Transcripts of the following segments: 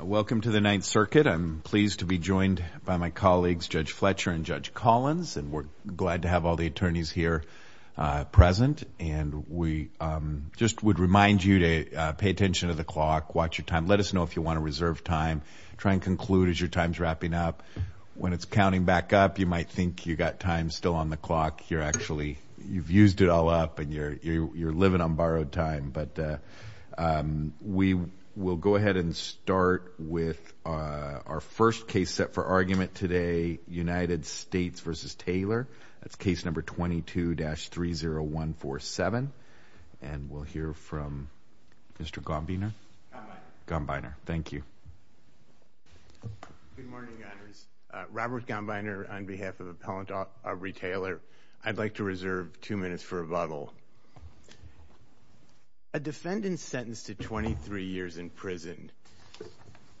Welcome to the Ninth Circuit. I'm pleased to be joined by my colleagues Judge Fletcher and Judge Collins and we're glad to have all the attorneys here present and we just would remind you to pay attention to the clock, watch your time, let us know if you want to reserve time, try and conclude as your time's wrapping up. When it's counting back up you might think you got time still on the clock you're actually you've used it all up and you're you're living on the clock. We're going to start with our first case set for argument today United States v. Taylor that's case number 22-30147 and we'll hear from Mr. Gombiner. Gombiner, thank you. Robert Gombiner on behalf of Appellant Aubrey Taylor I'd like to reserve two minutes for rebuttal. A defendant sentenced to 23 years in prison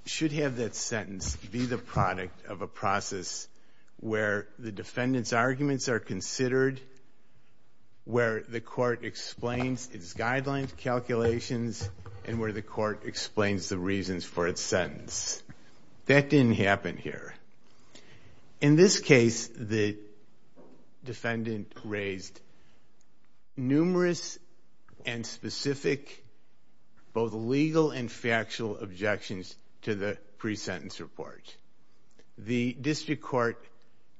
should have that sentence be the product of a process where the defendant's arguments are considered, where the court explains its guidelines calculations, and where the court explains the reasons for its sentence. That didn't happen here. In this case the defendant raised numerous and factual objections to the pre-sentence report. The district court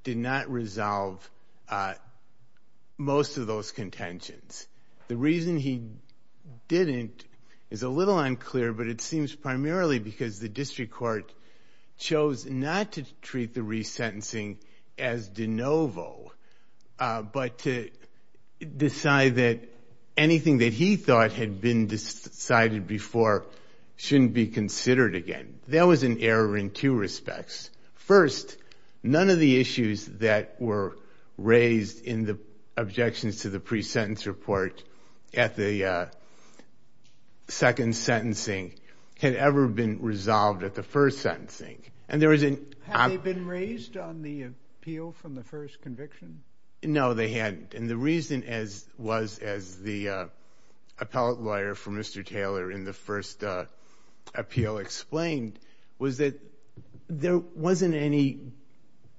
did not resolve most of those contentions. The reason he didn't is a little unclear but it seems primarily because the district court chose not to treat the resentencing as de novo but to decide that anything that he thought had been decided before shouldn't be considered again. That was an error in two respects. First, none of the issues that were raised in the objections to the pre-sentence report at the second sentencing had ever been resolved at the first sentencing and there was an... Had they been raised on the appeal from the Mr. Taylor in the first appeal explained was that there wasn't any...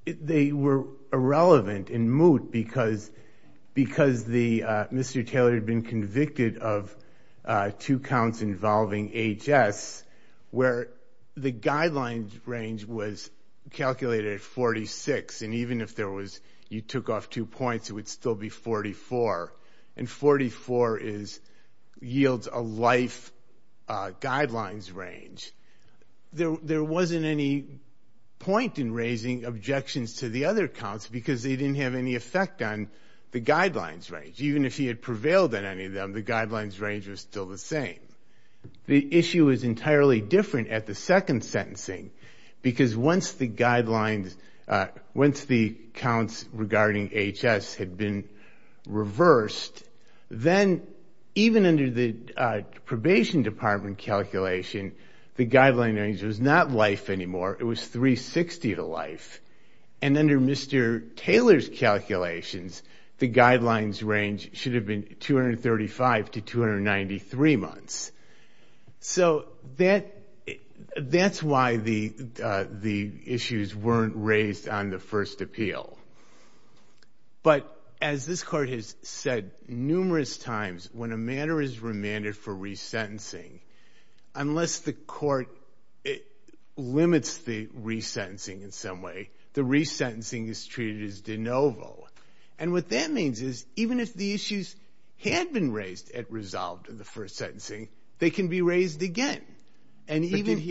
They were irrelevant in moot because Mr. Taylor had been convicted of two counts involving HS where the guidelines range was calculated at 46 and even if there was... You took off two points it would still be 44 and 44 is... Yields a life guidelines range. There wasn't any point in raising objections to the other counts because they didn't have any effect on the guidelines range. Even if he had prevailed on any of them, the guidelines range was still the same. The issue is entirely different at the second sentencing because once the counts regarding HS had been reversed, then even under the probation department calculation, the guideline range was not life anymore. It was 360 to life and under Mr. Taylor's calculations, the guidelines range should have been 235 to 293 months. So that's why the issues weren't raised on the first appeal. But as this court has said numerous times, when a matter is remanded for resentencing, unless the court limits the resentencing in some way, the resentencing is treated as de novo. And what that means is even if the issues had been raised at resolved in the first sentencing, they can be raised again. And defendant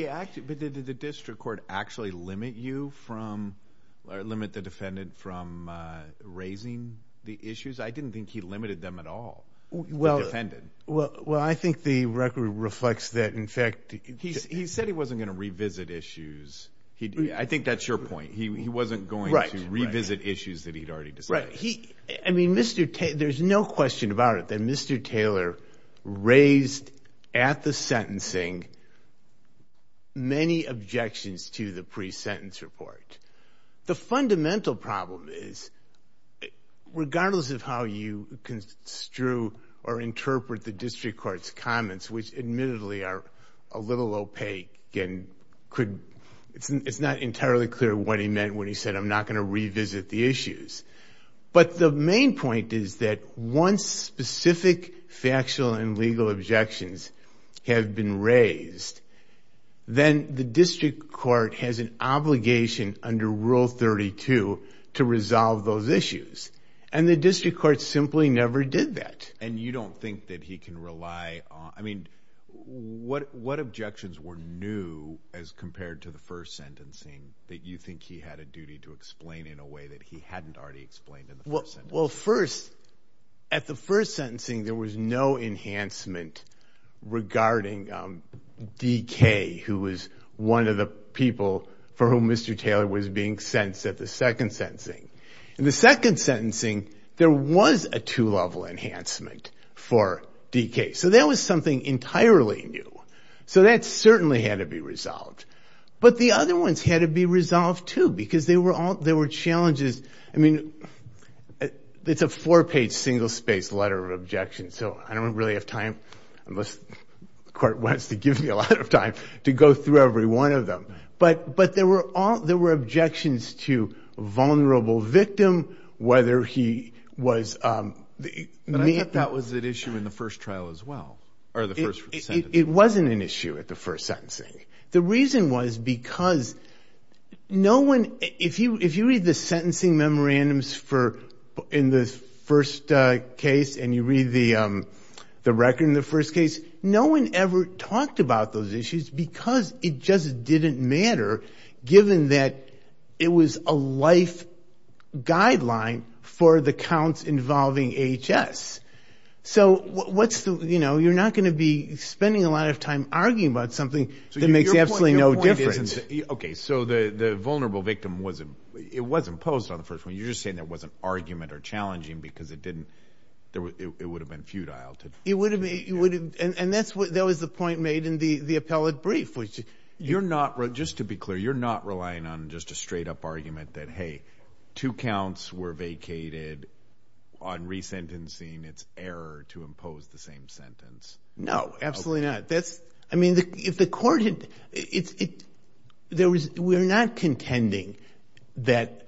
from raising the issues? I didn't think he limited them at all. Well, I think the record reflects that. In fact, he said he wasn't going to revisit issues. I think that's your point. He wasn't going to revisit issues that he'd already decided. Right. I mean, there's no question about it that Mr. Taylor raised at the sentencing many objections to the pre-sentence report. The fundamental problem is, regardless of how you construe or interpret the district court's comments, which admittedly are a little opaque and it's not entirely clear what he meant when he said, I'm not going to revisit the issues. But the main point is that once specific factual and legal objections have been raised, then the district court has an obligation under rule 32 to resolve those issues. And the district court simply never did that. And you don't think that he can rely on, I mean, what, what objections were new as compared to the first sentencing that you think he had a duty to explain in a way that he hadn't already explained in the first sentence? Well, first, at the first sentencing, there was no enhancement regarding DK, who was one of the people for whom Mr. Taylor was being sentenced at the second sentencing. In the second sentencing, there was a two-level enhancement for DK. So that was something entirely new. So that certainly had to be resolved. But the other ones had to be resolved too, because they were all, there were challenges. I mean, it's a four-page single-space letter of objection. So I don't really have time, unless the court wants to give me a lot of time, to go through every one of them. But, but there were all, there were objections to a vulnerable victim, whether he was... But I thought that was an issue in the first trial as well, or the first sentencing. It wasn't an issue at the first sentencing. The reason was because no one, if you, if you read the sentencing memorandums for, in the first case, and you read the, the record in the first case, no one ever talked about those issues, because it just didn't matter, given that it was a life guideline for the counts involving AHS. So what's the, you know, you're not going to be spending a lot of time arguing about something that makes absolutely no difference. Okay. So the, the vulnerable victim wasn't, it wasn't imposed on the first one. You're just saying there wasn't argument or challenging because it didn't, it would have been futile to... It would have been, it would have, and that's what, that was the point made in the, the appellate brief, which... You're not, just to be clear, you're not relying on just a straight up argument that, hey, two counts were vacated on resentencing. It's error to impose the same sentence. No, absolutely not. That's, I mean, the, if the court had, it, there was, we're not contending that,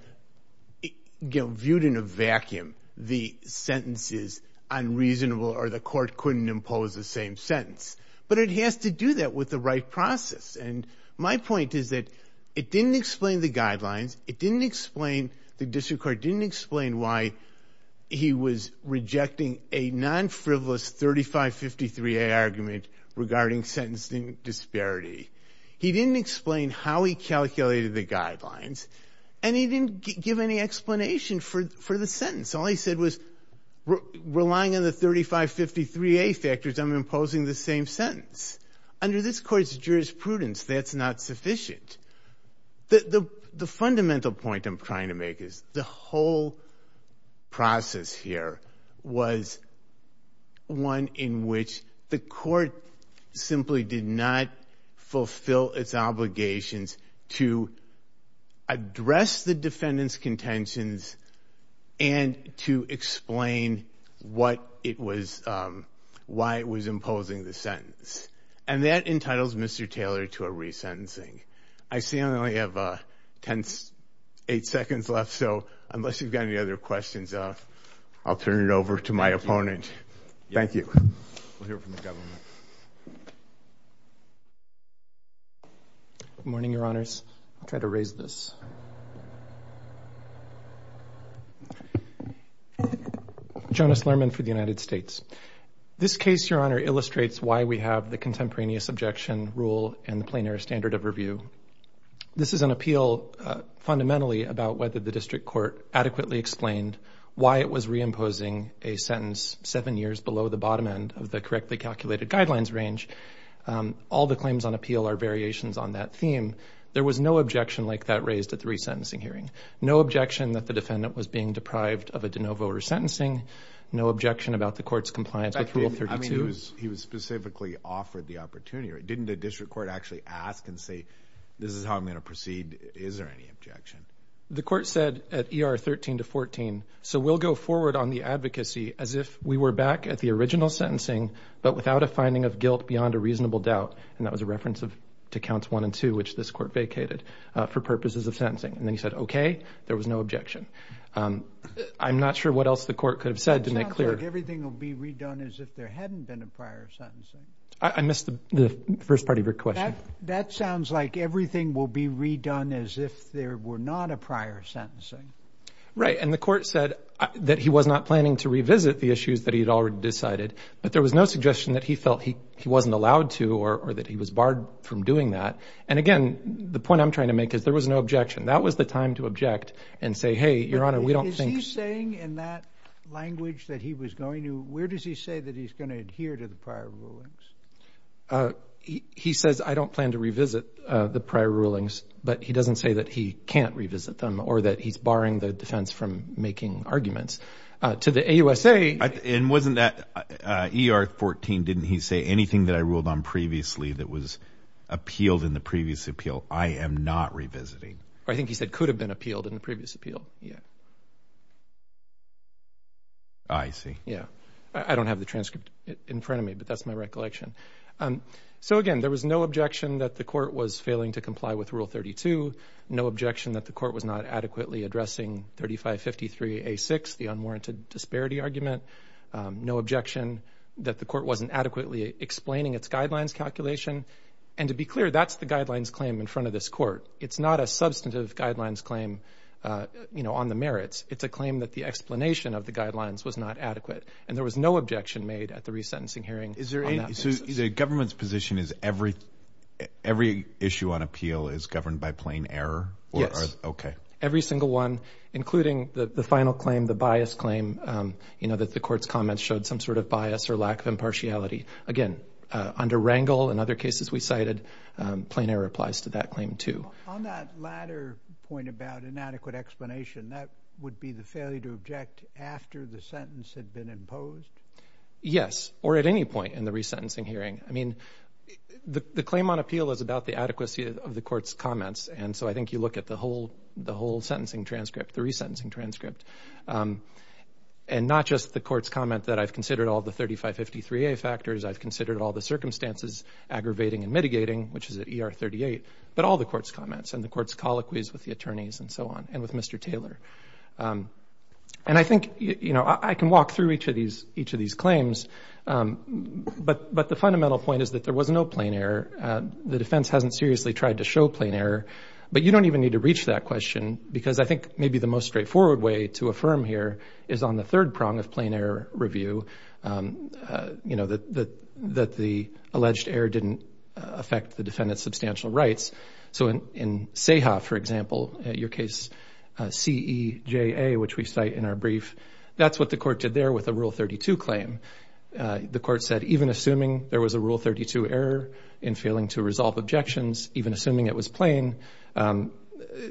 you know, viewed in a vacuum, the sentence is unreasonable or the court couldn't impose the same sentence, but it has to do that with the right process. And my point is that it didn't explain the guidelines. It didn't explain, the district court didn't explain why he was rejecting a non-frivolous 3553A argument regarding sentencing disparity. He didn't explain how he calculated the guidelines and he didn't give any explanation for, for the sentence. All he said was, relying on the 3553A factors, I'm imposing the same sentence. Under this court's jurisprudence, that's not sufficient. The, the, the fundamental point I'm trying to make is the whole process here was one in which the court simply did not fulfill its obligations to address the defendant's contentions and to explain what it was, why it was imposing the sentence. And that entitles Mr. Taylor to a resentencing. I see I only have eight seconds left, so unless you've got any other questions, I'll turn it over to my opponent. Thank you. We'll hear from the government. Good morning, Your Honors. I'll try to raise this. Jonas Lerman for the United States. This case, Your Honor, illustrates why we have the contemporaneous objection rule and the plenary standard of review. This is an appeal fundamentally about whether the district court adequately explained why it was reimposing a sentence seven years below the bottom end of the correctly calculated guidelines range. All the claims on appeal are variations on that theme. There was no objection like that raised at the resentencing hearing. No objection that the defendant was being deprived of a de novo resentencing. No objection about the court's compliance with Rule 32. In fact, he, I mean, he was, he was specifically offered the opportunity, or didn't the district court actually ask and say, this is how I'm going to So we'll go forward on the advocacy as if we were back at the original sentencing, but without a finding of guilt beyond a reasonable doubt. And that was a reference of, to counts one and two, which this court vacated for purposes of sentencing. And then he said, okay, there was no objection. Um, I'm not sure what else the court could have said to make clear everything will be redone as if there hadn't been a prior sentencing. I missed the first part of your question. That sounds like everything will be redone as if there were not a prior sentencing. Right. And the court said that he was not planning to revisit the issues that he had already decided, but there was no suggestion that he felt he wasn't allowed to or that he was barred from doing that. And again, the point I'm trying to make is there was no objection. That was the time to object and say, Hey, Your Honor, we don't think... Is he saying in that language that he was going to, where does he say that he's going to adhere to the prior rulings? Uh, he says, I don't plan to revisit, uh, the prior rulings, but he doesn't say that he can't revisit them or that he's barring the defense from making arguments, uh, to the AUSA. And wasn't that, uh, ER 14, didn't he say anything that I ruled on previously that was appealed in the previous appeal? I am not revisiting. I think he said could have been appealed in the previous appeal. Yeah. I see. Yeah. I don't have the transcript in front of me, but that's my objection that the court was failing to comply with rule 32. No objection that the court was not adequately addressing 35 53 a six, the unwarranted disparity argument. No objection that the court wasn't adequately explaining its guidelines calculation. And to be clear, that's the guidelines claim in front of this court. It's not a substantive guidelines claim, uh, you know, on the merits. It's a claim that the explanation of the guidelines was not adequate, and there was no objection made at the resentencing hearing. Is there a government's position? Is every every issue on appeal is governed by plain error? Yes. Okay. Every single one, including the final claim, the bias claim, you know that the court's comments showed some sort of bias or lack of impartiality again under wrangle. In other cases, we cited plain error applies to that claim to on that ladder point about inadequate explanation. That would be the failure to object after the point in the resentencing hearing. I mean, the claim on appeal is about the adequacy of the court's comments. And so I think you look at the whole the whole sentencing transcript, the resentencing transcript. Um, and not just the court's comment that I've considered all the 35 53 a factors I've considered all the circumstances aggravating and mitigating, which is that you're 38, but all the court's comments and the court's colloquies with the attorneys and so on and with Mr Taylor. Um, and I think you know, I can walk through each of these each of these claims. Um, but but the fundamental point is that there was no plain error. The defense hasn't seriously tried to show plain error, but you don't even need to reach that question because I think maybe the most straightforward way to affirm here is on the third prong of plain error review. Um, you know, that that that the alleged air didn't affect the defendant's substantial rights. So in say, how, for example, your case C E J A, which we cite in our brief, that's what the court did there with a rule 32 claim. Uh, the court said, even assuming there was a rule 32 error in failing to resolve objections, even assuming it was plain, um,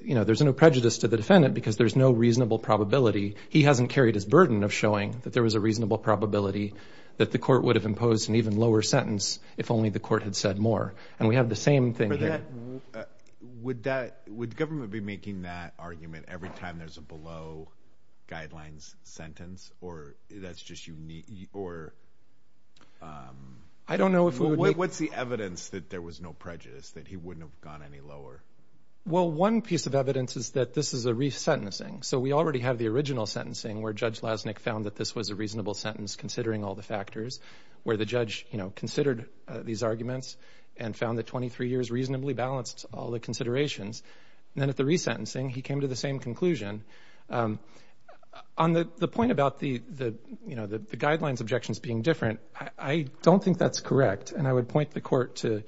you know, there's no prejudice to the defendant because there's no reasonable probability. He hasn't carried his burden of showing that there was a reasonable probability that the court would have imposed an even lower sentence if only the court had said more. And we have the same thing. Would that would government be making that sentence? Or that's just unique? Or, um, I don't know. What's the evidence that there was no prejudice that he wouldn't have gone any lower? Well, one piece of evidence is that this is a resentencing. So we already have the original sentencing where Judge Lasnik found that this was a reasonable sentence, considering all the factors where the judge, you know, considered these arguments and found the 23 years reasonably balanced all the considerations. And then at the resentencing, he came to the same conclusion. Um, on the point about the, you know, the guidelines objections being different. I don't think that's correct. And I would point the court to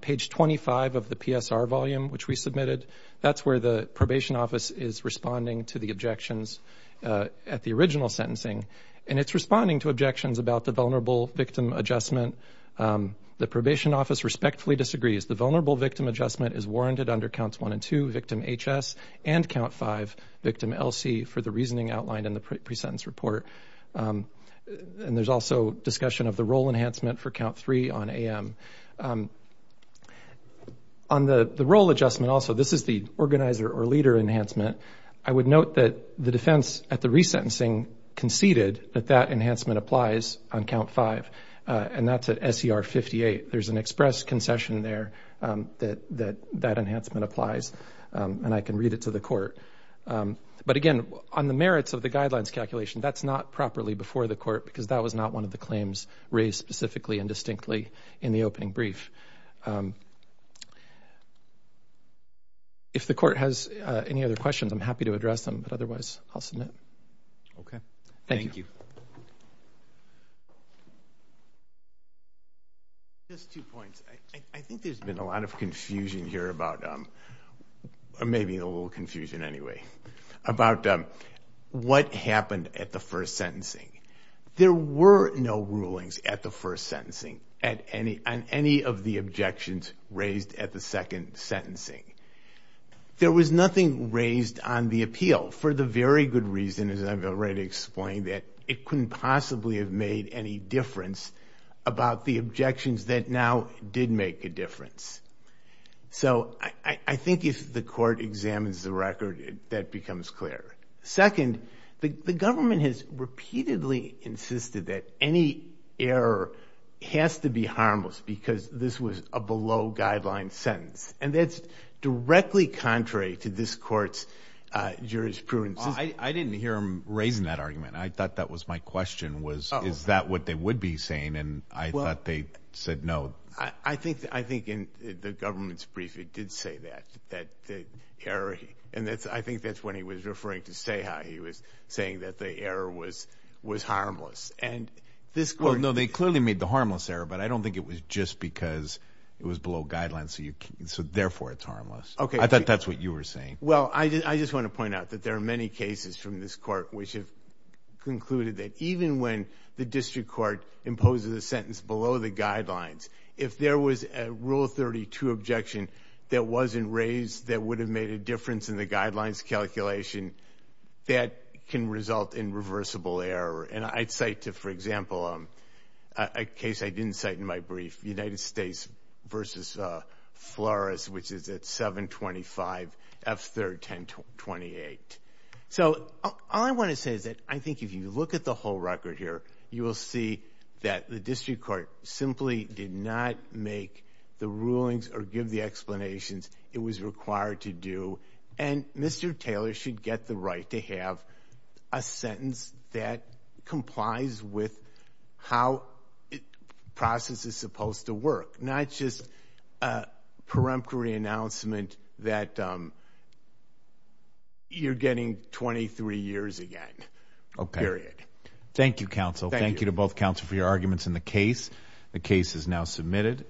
page 25 of the PSR volume, which we submitted. That's where the probation office is responding to the objections at the original sentencing, and it's responding to objections about the vulnerable victim adjustment. Um, the probation office respectfully disagrees. The vulnerable victim adjustment is warranted under counts one and two, victim HS and count five victim LC for the reasoning outlined in the pre-sentence report. Um, and there's also discussion of the role enhancement for count three on AM. Um, on the role adjustment also, this is the organizer or leader enhancement. I would note that the defense at the resentencing conceded that that enhancement applies on count five. Uh, and that's at SER 58. There's an express concession there, um, that that that enhancement applies. Um, and I can read it to the court. Um, but again, on the merits of the guidelines calculation, that's not properly before the court because that was not one of the claims raised specifically and distinctly in the opening brief. Um, if the court has any other questions, I'm happy to address them. But otherwise, I'll submit. Okay. Thank you. Just two points. I think there's been a lot of confusion here about, um, maybe a little confusion anyway, about, um, what happened at the first sentencing. There were no rulings at the first sentencing at any, on any of the objections raised at the second sentencing. There was nothing raised on the appeal for the very good reason, as I've already explained, that it couldn't possibly have made any difference about the objections that now did make a difference. So I think if the court examines the record, that becomes clear. Second, the government has repeatedly insisted that any error has to be harmless because this was a below guideline sentence. And that's jurisprudence. I didn't hear him raising that argument. I thought that was my question was, is that what they would be saying? And I thought they said no. I think I think in the government's brief, it did say that, that area. And that's I think that's when he was referring to say how he was saying that the error was was harmless. And this well, no, they clearly made the harmless error. But I don't think it was just because it was below guidelines. So therefore, it's harmless. Okay. I thought that's what you were saying. Well, I just I just want to point out that there are many cases from this court which have concluded that even when the district court imposes a sentence below the guidelines, if there was a rule 32 objection that wasn't raised, that would have made a difference in the guidelines calculation that can result in reversible error. And I'd say to, for example, a case I didn't cite in my brief United States versus Flores, which is at 725 F3rd 1028. So all I want to say is that I think if you look at the whole record here, you will see that the district court simply did not make the rulings or give the explanations it was required to do. And Mr. Taylor should get the right to have a sentence that complies with how process is supposed to work, not just a peremptory announcement that you're getting 23 years again. Okay. Thank you, counsel. Thank you to both counsel for your arguments in the case. The case is now submitted.